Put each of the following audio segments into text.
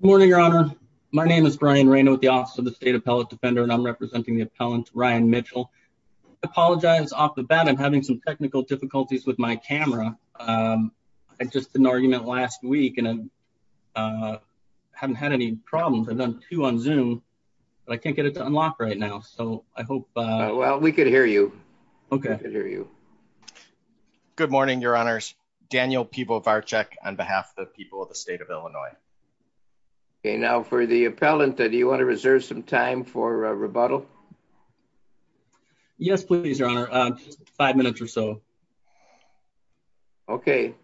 Good morning, Your Honor. My name is Brian Reyna with the Office of the State Appellate Defender, and I'm representing the appellant, Ryan Mitchell. I apologize off the bat. I'm having some technical difficulties with my camera. I just did an argument last week and I haven't had any problems. I've done two on Zoom, but I can't get it to unlock right now, so I hope... Well, we could hear you. Okay. Good morning, Your Honors. Daniel Pivovarczyk on behalf of the people of the state of Illinois. Okay. Now for the appellant, do you want to reserve some time for a rebuttal? Yes, please, Your Honor. Five minutes or so. Okay.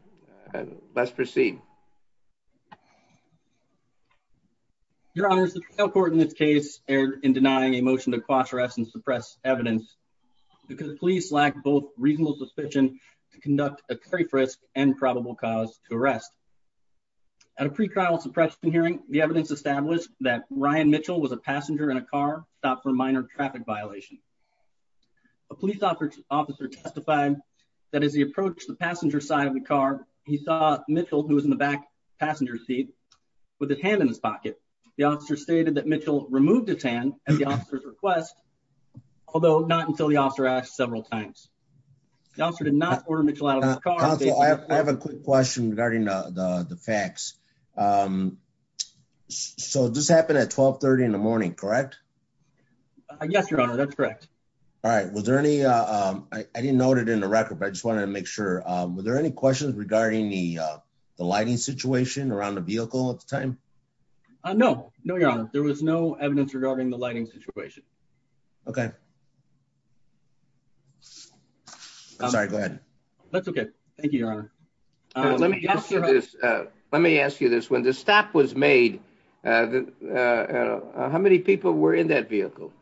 Let's proceed. Your Honors, the trial court in this case erred in denying a motion to quash, arrest, and suppress evidence because the police lack both reasonable suspicion to conduct a hearing. The evidence established that Ryan Mitchell was a passenger in a car, stopped for a minor traffic violation. A police officer testified that as he approached the passenger side of the car, he saw Mitchell, who was in the back passenger seat, with his hand in his pocket. The officer stated that Mitchell removed his hand at the officer's request, although not until the officer asked several times. The officer did not order Mitchell out of the car. Counsel, I have a quick question regarding the facts. So this happened at 1230 in the morning, correct? Yes, Your Honor. That's correct. All right. Was there any... I didn't note it in the record, but I just wanted to make sure. Were there any questions regarding the lighting situation around the vehicle at the time? No. No, Your Honor. There was no evidence regarding the lighting situation. Okay. I'm sorry. Go ahead. That's okay. Thank you, Your Honor. Let me ask you this. When the stop was made, how many people were in that vehicle?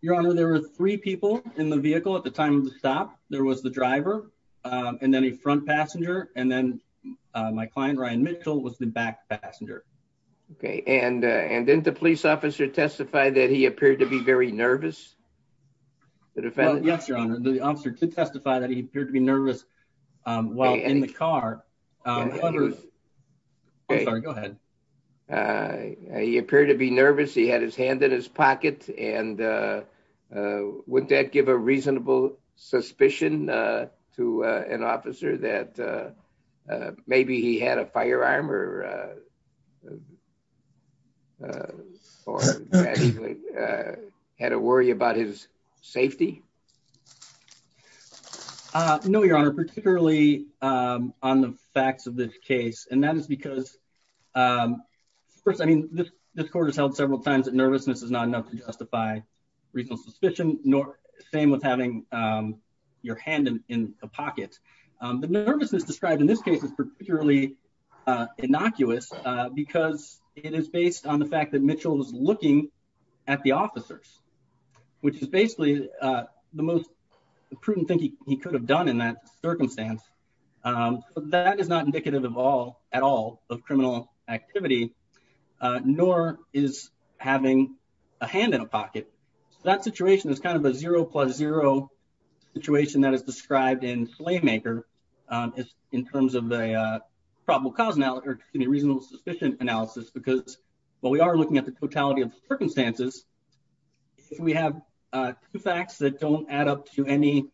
Your Honor, there were three people in the vehicle at the time of the stop. There was the driver, and then a front passenger, and then my client, Ryan Mitchell, was the back passenger. Okay. And didn't the police officer testify that he appeared to be very nervous? Well, yes, Your Honor. The officer did testify that he appeared to be nervous while in the car. I'm sorry. Go ahead. He appeared to be nervous. He had his hand in his pocket. And wouldn't that give a reasonable suspicion to an officer that maybe he had a firearm or had a worry about his safety? No, Your Honor, particularly on the facts of this case. And that is because, first, I mean, this court has held several times that nervousness is not enough to justify reasonable suspicion, nor the same with having your hand in a pocket. The nervousness described in this case is particularly innocuous because it is based on the fact that Mitchell was looking at the officers, which is basically the most prudent thing he could have done in that circumstance. That is not indicative at all of criminal activity, nor is having a hand in a pocket. I'm not going to go into that in terms of the reasonable suspicion analysis, because while we are looking at the totality of the circumstances, if we have two facts that don't add up to any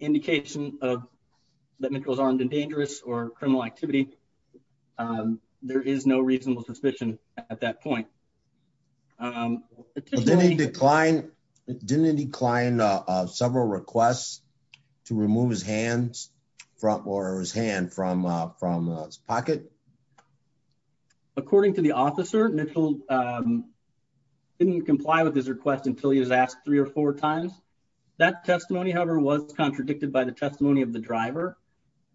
indication that Mitchell is armed and dangerous or criminal activity, there is no reasonable suspicion at that point. Didn't he decline several requests to remove his hand from his pocket? According to the officer, Mitchell didn't comply with his request until he was asked three or four times. That testimony, however, was contradicted by the testimony of the driver.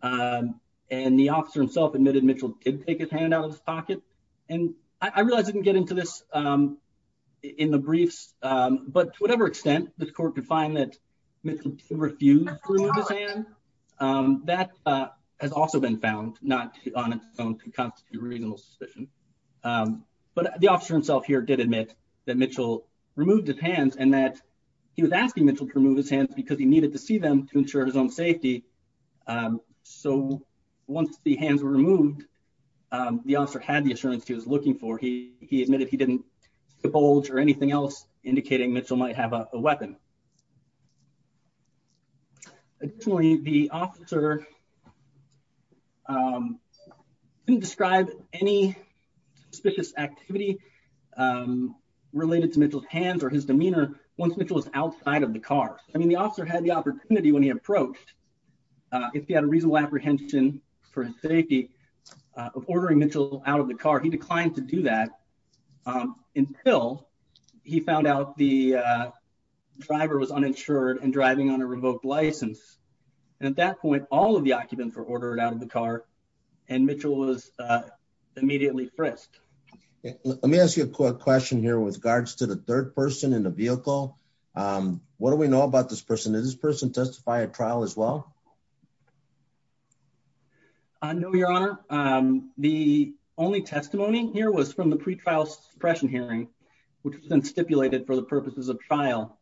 And the officer admitted Mitchell did take his hand out of his pocket. I realize I didn't get into this in the briefs, but to whatever extent the court could find that Mitchell refused to remove his hand, that has also been found not on its own to constitute reasonable suspicion. But the officer himself here did admit that Mitchell removed his hands and that he was asking Mitchell to remove his hands because he needed to see them to ensure his own safety. So once the hands were removed, the officer had the assurance he was looking for. He admitted he didn't bulge or anything else indicating Mitchell might have a weapon. Additionally, the officer didn't describe any suspicious activity related to Mitchell's hands or his demeanor once Mitchell was outside of the car. I mean, the officer had the opportunity when he approached, if he had a reasonable apprehension for his safety of ordering Mitchell out of the car, he declined to do that until he found out the driver was uninsured and driving on a revoked license. And at that point, all of the occupants were ordered out of the car and Mitchell was immediately frisked. Let me ask you a quick here with regards to the third person in the vehicle. What do we know about this person? Did this person testify at trial as well? I know, your honor. The only testimony here was from the pre-trial suppression hearing, which has been stipulated for the purposes of trial.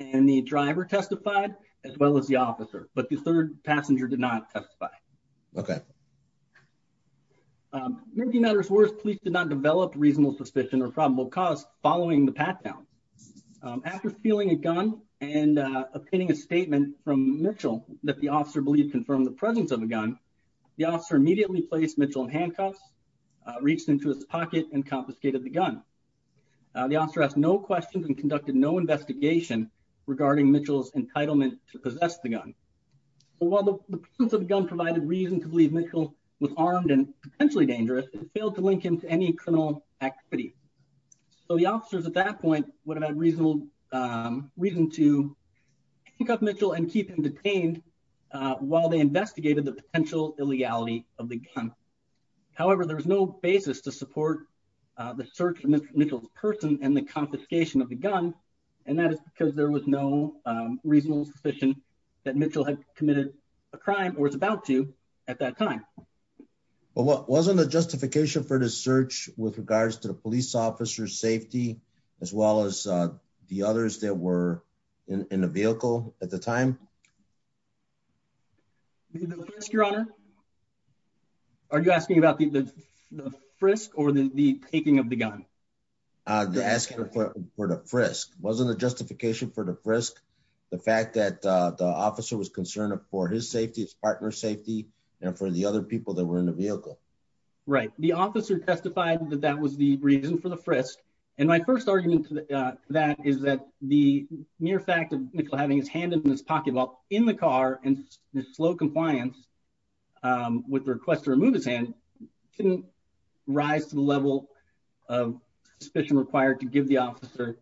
And the driver testified as well as the officer, but the third passenger did not testify. Okay. Making matters worse, police did not develop reasonable suspicion or probable cause following the pat down. After stealing a gun and obtaining a statement from Mitchell that the officer believed confirmed the presence of a gun, the officer immediately placed Mitchell in handcuffs, reached into his pocket and confiscated the gun. The officer asked no questions and conducted no investigation regarding Mitchell's entitlement to possess the gun. So while the presence of the gun provided reason to believe Mitchell was armed and potentially dangerous, it failed to link him to any criminal activity. So the officers at that point would have had reasonable reason to pick up Mitchell and keep him detained while they investigated the potential illegality of the gun. However, there was no basis to support the search for Mitchell's person and the confiscation of the gun. And that is because there was no reasonable suspicion that Mitchell had committed a crime or was about to at that time. But what wasn't the justification for the search with regards to the police officer's safety, as well as the others that were in the vehicle at the time? Your Honor, are you asking about the frisk or the taking of the gun? Asking for the frisk wasn't a justification for the frisk. The fact that the officer was concerned for his safety, his partner's safety, and for the other people that were in the vehicle. Right. The officer testified that that was the reason for the frisk. And my first argument to that is that the mere fact of having his hand in his pocket while in the car and slow compliance with the request to remove his hand didn't rise to the level of suspicion required to give the officer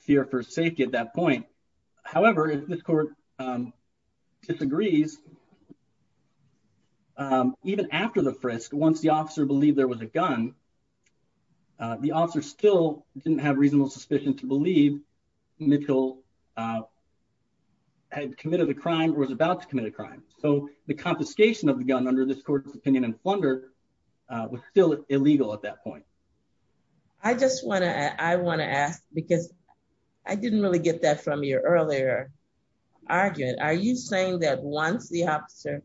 fear for safety at that point. However, if this court disagrees, even after the frisk, once the officer believed there was a gun, the officer still didn't have reasonable suspicion to believe Mitchell had committed a crime or was about to commit a crime. So the confiscation of the gun under this court's opinion and plunder was still illegal at that point. I just want to ask, because I didn't really get that from your earlier argument. Are you saying that once the officer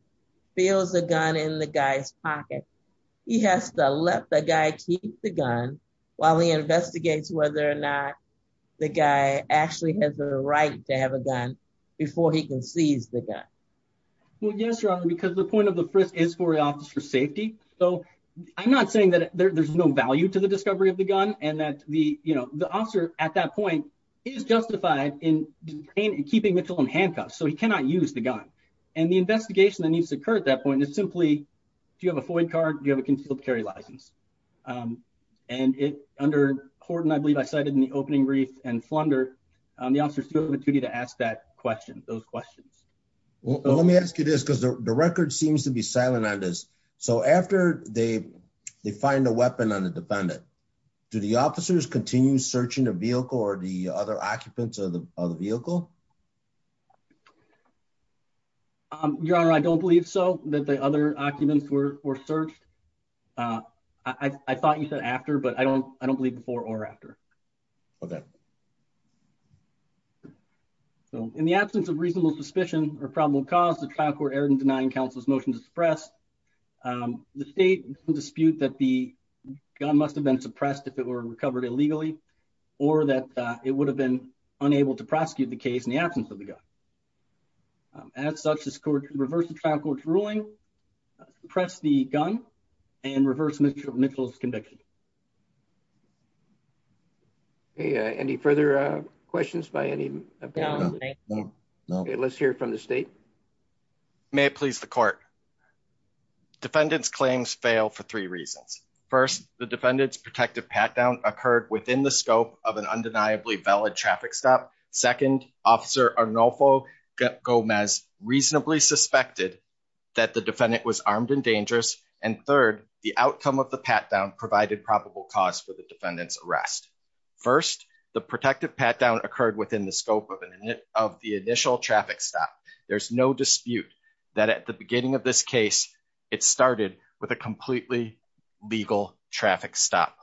feels the gun in the guy's pocket, he has to let the guy keep the gun while he investigates whether or not the guy actually has the right to have a gun before he can seize the gun? Well, yes, Your Honor, because the point of the frisk is for the officer's safety. So I'm not saying that there's no value to the discovery of the gun and that the officer at that point is justified in keeping Mitchell in handcuffs, so he cannot use the gun. And the investigation that needs to occur at that point is simply, do you have a FOIA card? Do you have an open brief and plunder? The officer still has the duty to ask those questions. Let me ask you this, because the record seems to be silent on this. So after they find a weapon on the defendant, do the officers continue searching the vehicle or the other occupants of the vehicle? Your Honor, I don't believe so, that the other occupants were searched. Uh, I thought you said after, but I don't, I don't believe before or after. Okay. So in the absence of reasonable suspicion or probable cause, the trial court erred in denying counsel's motion to suppress. The state dispute that the gun must have been suppressed if it were recovered illegally or that it would have been unable to prosecute the case in the absence of the gun. As such, this court can reverse the trial court's ruling, suppress the gun, and reverse Mitchell's conviction. Okay, any further questions by any? No. Okay, let's hear from the state. May it please the court. Defendants' claims fail for three reasons. First, the defendant's protective pat-down occurred within the scope of an undeniably valid traffic stop. Second, Officer Arnolfo Gomez reasonably suspected that the defendant was armed and dangerous, and third, the outcome of the pat-down provided probable cause for the defendant's arrest. First, the protective pat-down occurred within the scope of the initial traffic stop. There's no dispute that at the beginning of this case, it started with a completely legal traffic stop.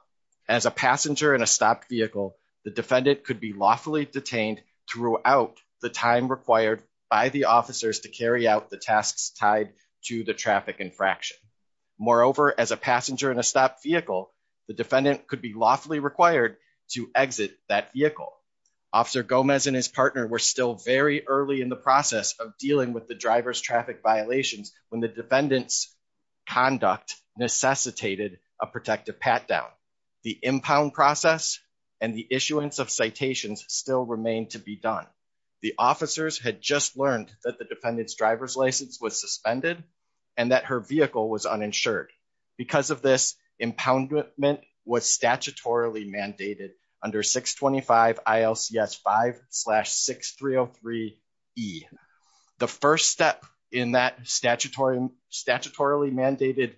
As a passenger in a stopped vehicle, the defendant could be lawfully detained throughout the time required by the officers to carry out the tasks tied to the traffic infraction. Moreover, as a passenger in a stopped vehicle, the defendant could be lawfully required to exit that vehicle. Officer Gomez and his partner were still very early in the process of dealing with the driver's protective pat-down. The impound process and the issuance of citations still remain to be done. The officers had just learned that the defendant's driver's license was suspended and that her vehicle was uninsured. Because of this, impoundment was statutorily mandated under 625 ILCS 5-6303E. The first step in that statutorily mandated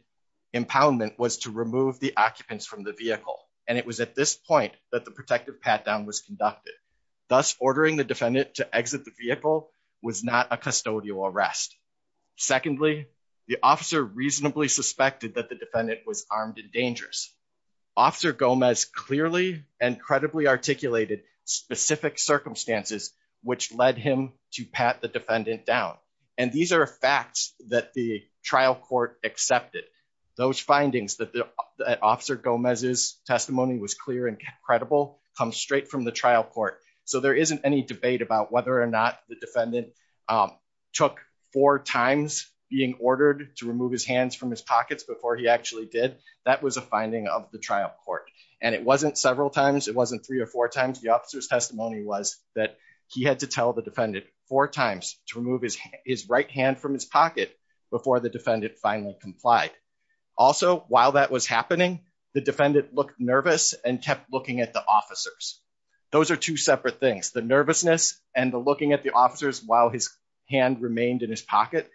impoundment was to remove the occupants from the vehicle, and it was at this point that the protective pat-down was conducted. Thus, ordering the defendant to exit the vehicle was not a custodial arrest. Secondly, the officer reasonably suspected that the defendant was armed and dangerous. Officer Gomez clearly and credibly articulated specific circumstances which led him to pat the defendant down, and these are facts that the trial court accepted. Those findings that Officer Gomez's testimony was clear and credible come straight from the trial court, so there isn't any debate about whether or not the defendant took four times being ordered to trial. It wasn't several times. It wasn't three or four times. The officer's testimony was that he had to tell the defendant four times to remove his right hand from his pocket before the defendant finally complied. Also, while that was happening, the defendant looked nervous and kept looking at the officers. Those are two separate things, the nervousness and the looking at the officers while his hand remained in his pocket.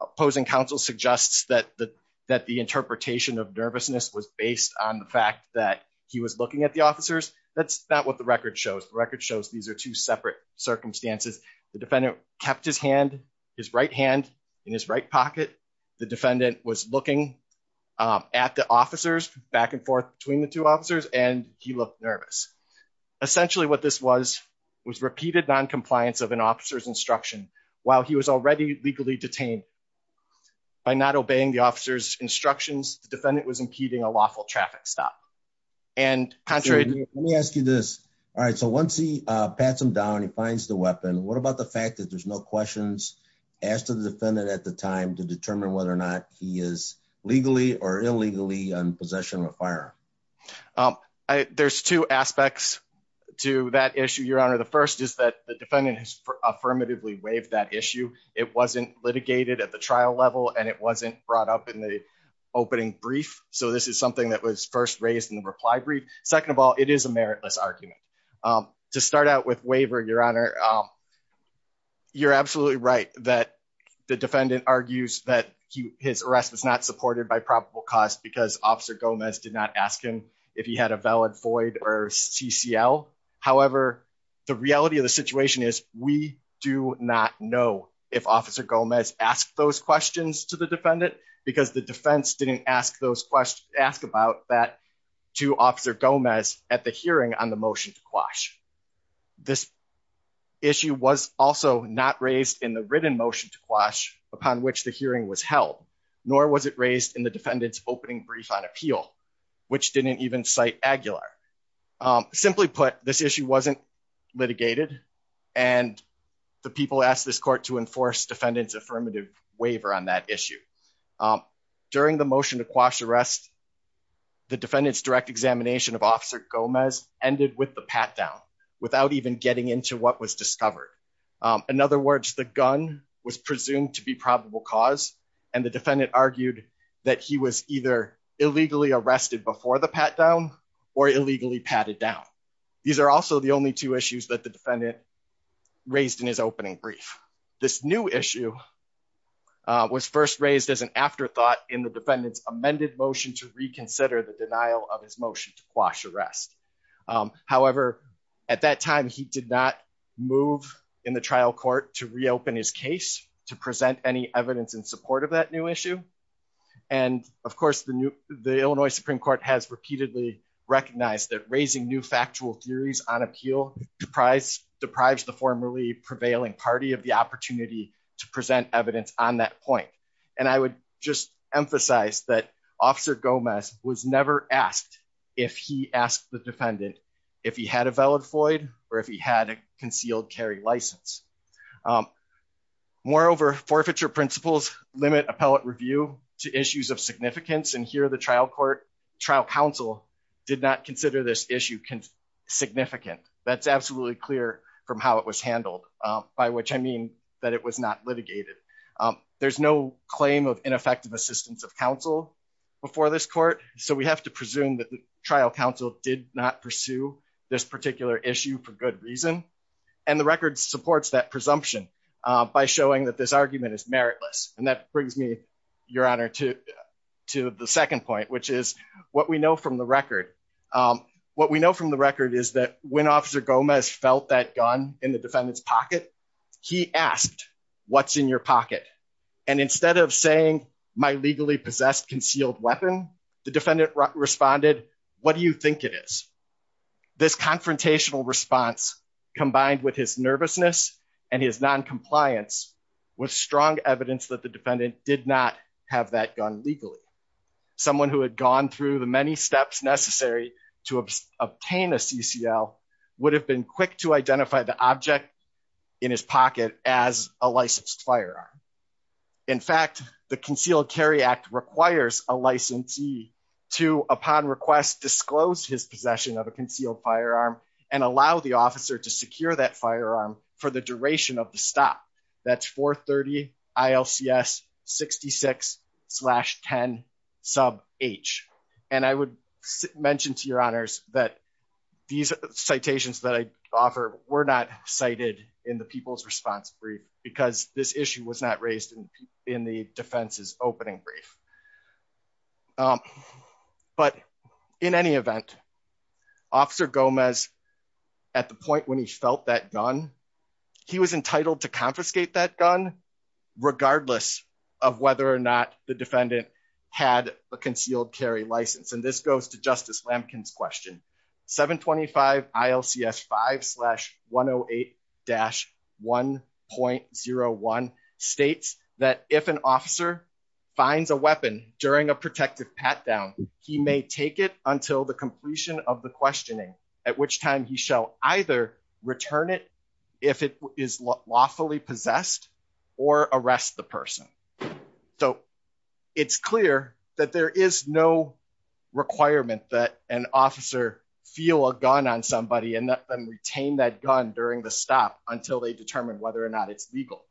Opposing counsel suggests that the interpretation of nervousness was based on the fact that he was looking at the officers. That's not what the record shows. The record shows these are two separate circumstances. The defendant kept his right hand in his right pocket. The defendant was looking at the officers back and forth between the two officers, and he looked nervous. Essentially, what this was was repeated noncompliance of an officer's instruction while he was already legally detained. By not obeying the officer's instructions, the defendant was impeding a lawful traffic stop. Let me ask you this. Once he pats him down, he finds the weapon, what about the fact that there's no questions asked of the defendant at the time to determine whether or not he is legally or illegally in possession of a firearm? There's two aspects to that issue, Your Honor. The first is that the defendant has affirmatively waived that issue. It wasn't litigated at the trial level, and it wasn't brought up in the opening brief, so this is something that was first raised in the reply brief. Second of all, it is a meritless argument. To start out with waiver, Your Honor, you're absolutely right that the defendant argues that his arrest was not supported by probable cause because Officer Gomez did not ask him if he had a valid FOID or CCL. However, the reality of the situation is we do not know if Officer Gomez asked those questions to the defendant because the defense didn't ask about that to Officer Gomez at the hearing on the motion to quash. This issue was also not raised in the written motion to quash upon which the hearing was held, nor was it raised in the defendant's opening brief on appeal, which didn't even cite Aguilar. Simply put, this issue wasn't litigated, and the people asked this court to enforce defendant's affirmative waiver on that issue. During the motion to quash arrest, the defendant's direct examination of Officer Gomez ended with the pat-down without even getting into what was discovered. In other words, the gun was presumed to be probable cause, and the defendant argued that he was either illegally arrested before the pat-down or illegally patted down. These are also the only two issues that the defendant raised in his opening brief. This new issue was first raised as an afterthought in the defendant's amended motion to reconsider the denial of his motion to quash arrest. However, at that time, he did not move in the trial court to reopen his case to present any evidence in support of that new issue. Of course, the Illinois Supreme Court has repeatedly recognized that raising new factual theories on appeal deprives the formerly prevailing party of the opportunity to present evidence on that point. I would just emphasize that Officer Gomez was never asked if he asked the defendant if he had a valid FOID or if he had concealed carry license. Moreover, forfeiture principles limit appellate review to issues of significance, and here the trial court, trial counsel, did not consider this issue significant. That's absolutely clear from how it was handled, by which I mean that it was not litigated. There's no claim of ineffective assistance of counsel before this court, so we have to presume that the trial counsel did not pursue this particular issue for good reason, and the record supports that presumption by showing that this argument is meritless, and that brings me, Your Honor, to the second point, which is what we know from the record. What we know from the record is that when Officer Gomez felt that gun in the defendant's pocket, he asked, What's in your pocket? And instead of saying, My legally possessed concealed weapon, the defendant responded, What do you think it is? This confrontational response, combined with his nervousness and his noncompliance, was strong evidence that the defendant did not have that gun legally. Someone who had gone through the many steps necessary to obtain a CCL would have been quick to identify the object in his pocket as a licensed firearm. In fact, the Concealed Carry Act requires a licensee to, upon request, disclose his possession of a concealed firearm and allow the officer to secure that firearm for the duration of the stop. That's 430 ILCS 66-10 sub H, and I would mention to Your Honors that these citations that I offer were not cited in the People's Response Brief because this issue was not raised in the defense's opening brief. But in any event, Officer Gomez, at the point when he felt that gun, he was entitled to goes to Justice Lampkin's question. 725 ILCS 5-108-1.01 states that if an officer finds a weapon during a protective pat down, he may take it until the completion of the questioning, at which time he shall either return it if it is lawfully possessed or arrest the person. So, it's clear that there is no requirement that an officer feel a gun on somebody and retain that gun during the stop until they determine whether or not it's legal.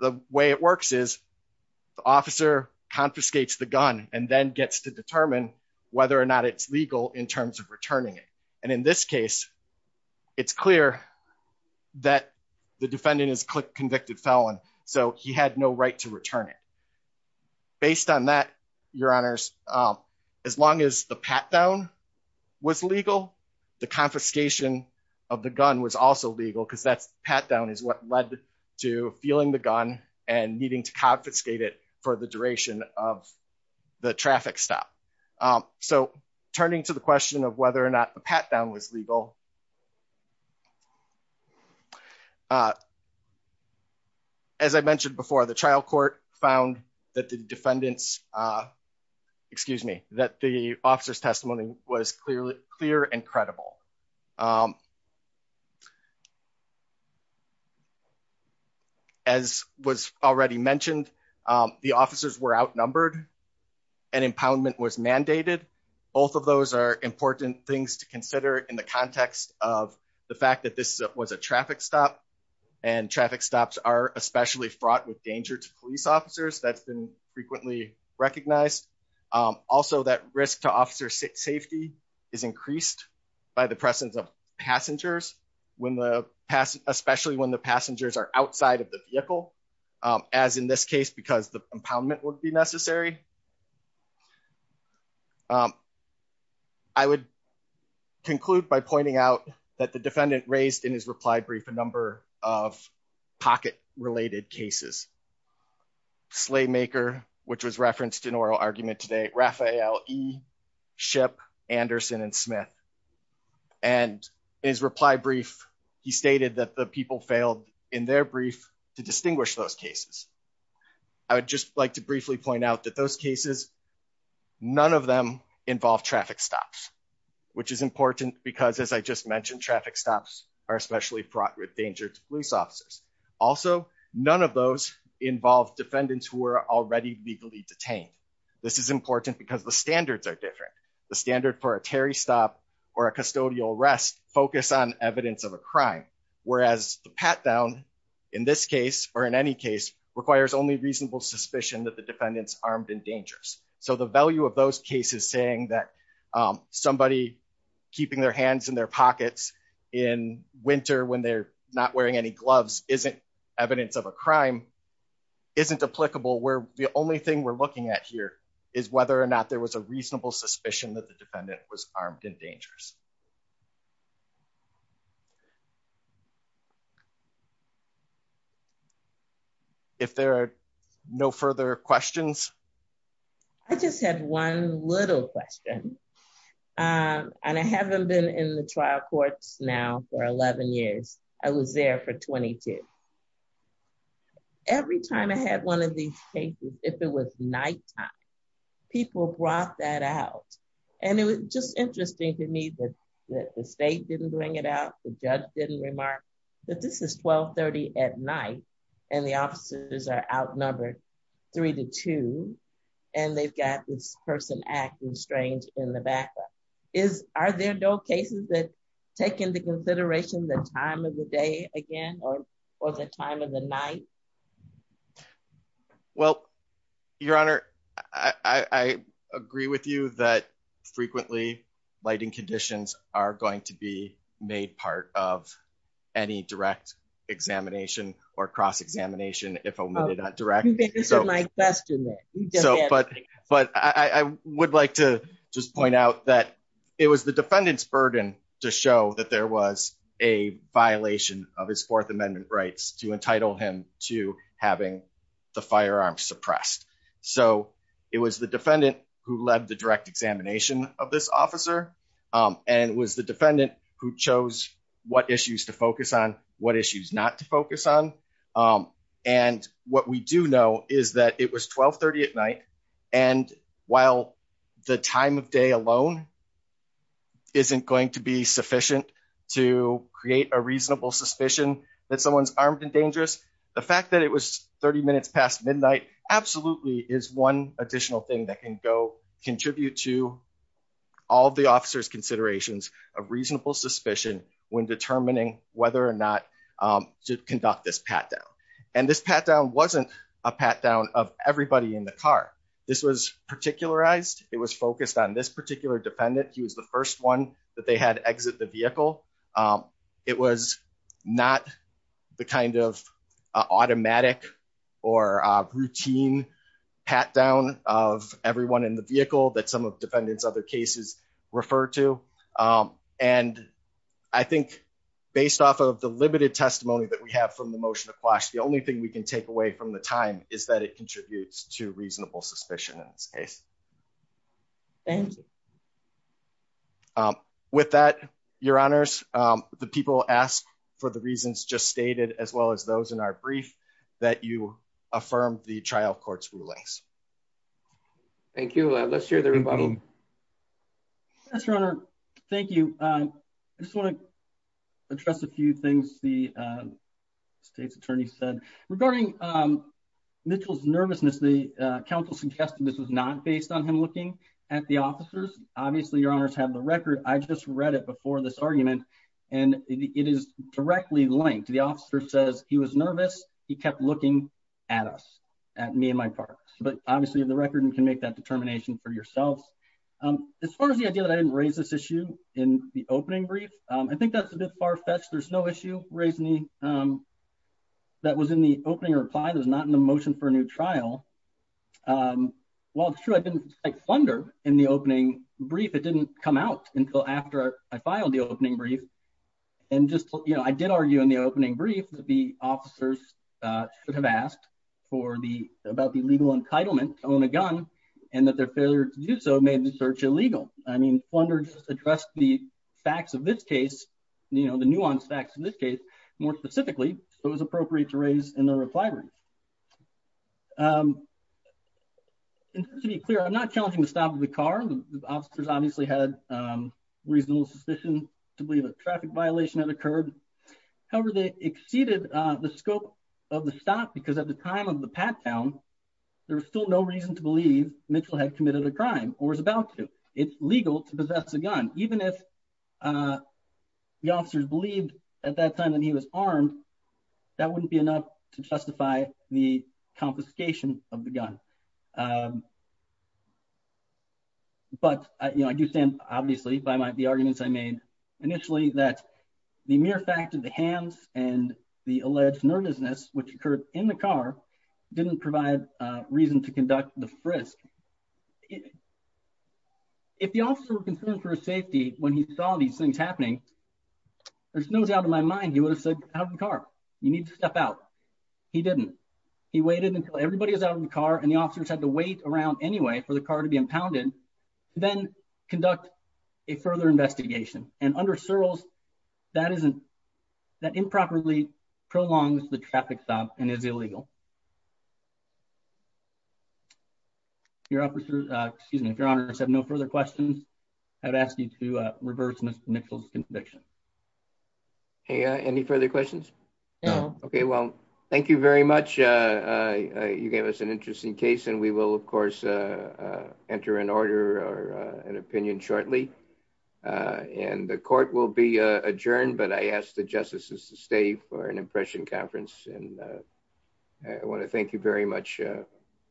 The way it works is the officer confiscates the gun and then gets to determine whether or not it's legal in terms of returning it. And in this case, it's clear that the defendant is convicted felon, so he had no right to return it. Based on that, Your Honors, as long as the pat down was legal, the confiscation of the gun was also legal because that pat down is what led to feeling the gun and needing to confiscate it for the duration of the traffic stop. So, turning to the question of whether or not the pat down was legal, as I mentioned before, the trial court found that the defendant's, excuse me, that the officer's testimony was clear and credible. As was already mentioned, the officers were outnumbered and impoundment was mandated. Both of those are important things to consider in the context of the fact that this was a traffic stop, and traffic stops are especially fraught with danger to police officers. That's been frequently recognized. Also, that risk to officer safety is increased by the presence of passengers, especially when the passengers are outside of the vehicle, as in this case, because the impoundment would be necessary. I would conclude by pointing out that the defendant raised in his reply brief a number of pocket-related cases. Slaymaker, which was referenced in oral argument today, Raphael E. Shipp, Anderson, and Smith. In his reply brief, he stated that the people failed in their brief to distinguish those cases. I would just like to briefly point out that those cases, none of them involve traffic stops, which is important because, as I just mentioned, traffic stops are especially fraught with danger to police officers. Also, none of those involve defendants who are already legally detained. This is important because the standards are different. The standard for a Terry stop or a custodial arrest focus on evidence of a crime, whereas the pat-down in this case, or in any case, requires only reasonable suspicion that the defendant's armed and dangerous. The value of those cases saying that somebody keeping their hands in their pockets in winter when they're not wearing any gloves isn't evidence of a crime, isn't applicable. The only thing we're looking at here is whether or not there was a reasonable suspicion that the defendant was armed and dangerous. If there are no further questions. I just had one little question. I haven't been in the trial courts now for 11 years. I was there for 22. Every time I had one of these cases, if it was nighttime, people brought that out. It was just interesting to me that the state didn't bring it out, the judge didn't remark that this is 1230 at night and the officers are outnumbered three to two and they've got this person acting strange in the back. Are there no cases that take into consideration the time of the day again or the time of the night? Well, your honor, I agree with you that lighting conditions are going to be made part of any direct examination or cross examination. I would like to just point out that it was the defendant's burden to show that there was a violation of his fourth amendment rights to entitle him to having the firearms suppressed. So it was the defendant who led the direct examination of this officer and it was the defendant who chose what issues to focus on, what issues not to focus on. And what we do know is that it was 1230 at night and while the time of day alone isn't going to be sufficient to create a reasonable suspicion that someone's armed and dangerous, the fact that it was 30 minutes past midnight absolutely is one additional thing that can go contribute to all the officer's considerations of reasonable suspicion when determining whether or not to conduct this pat-down. And this pat-down wasn't a pat-down of everybody in the car. This was particularized, it was focused on this particular defendant. He was the first one that they had exit the vehicle. It was not the kind of automatic or routine pat-down of everyone in the vehicle that some of defendants other cases refer to. And I think based off of the limited testimony that we have from the motion of quash, the only thing we can take away from the time is that it contributes to reasonable suspicion in this case. And with that, your honors, the people asked for the reasons just stated as well as those in our brief that you affirm the trial court's rulings. Thank you. Let's hear the rebuttal. Yes, your honor. Thank you. I just want to address a few things the state's attorney said. Regarding Mitchell's nervousness, the counsel suggested this was not based on him looking at the officers. Obviously, your honors have the record. I just read it before this argument and it is directly linked. The officer says he was nervous, he kept looking at us, at me and my partner. But obviously, you have the record and can make that determination for yourselves. As far as the idea that I didn't raise this issue in the opening brief, I think that's a bit far-fetched. There's no issue raising that was in the opening reply. That was not in the motion for a new trial. While it's true, I didn't, like, flounder in the opening brief. It didn't come out until after I filed the opening brief. And just, you know, I did argue in the opening brief that the officers should have asked for the, about the legal entitlement to own a gun and that their failure to do so made the search illegal. I mean, flounder just addressed the facts of this case, you know, the nuanced facts of this case, more specifically, so it was appropriate to raise in the reply brief. And to be clear, I'm not challenging the stop of the car. The officers obviously had reasonable suspicion to believe a traffic violation had occurred. However, they exceeded the scope of the stop because at the time of the pat-down, there was still no reason to believe Mitchell had committed a crime or was about to. It's legal to possess a gun. Even if the officers believed at that time that he was armed, that wouldn't be enough to justify the confiscation of the gun. But, you know, I do stand, obviously, by the arguments I made initially that the mere fact of the hands and the alleged nervousness which occurred in the car didn't provide reason to conduct the frisk. If the officer were concerned for his safety when he saw these things happening, there's no doubt in my mind he would have said, out of the car, you need to step out. He didn't. He waited until everybody was out of the car and the officers had to wait around anyway for the car to be impounded, then conduct a further investigation. And under Searles, that isn't, that improperly prolongs the traffic stop and is illegal. If your officers, excuse me, if your honors have no further questions, I'd ask you to reverse Mr. Mitchell's conviction. Hey, any further questions? No. Okay, well, thank you very much. You gave us an interesting case and we will, of course, enter an order or an opinion shortly. And the court will be adjourned, but I ask the justices to stay for an impression conference. And I want to thank you very much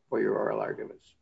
for your oral arguments.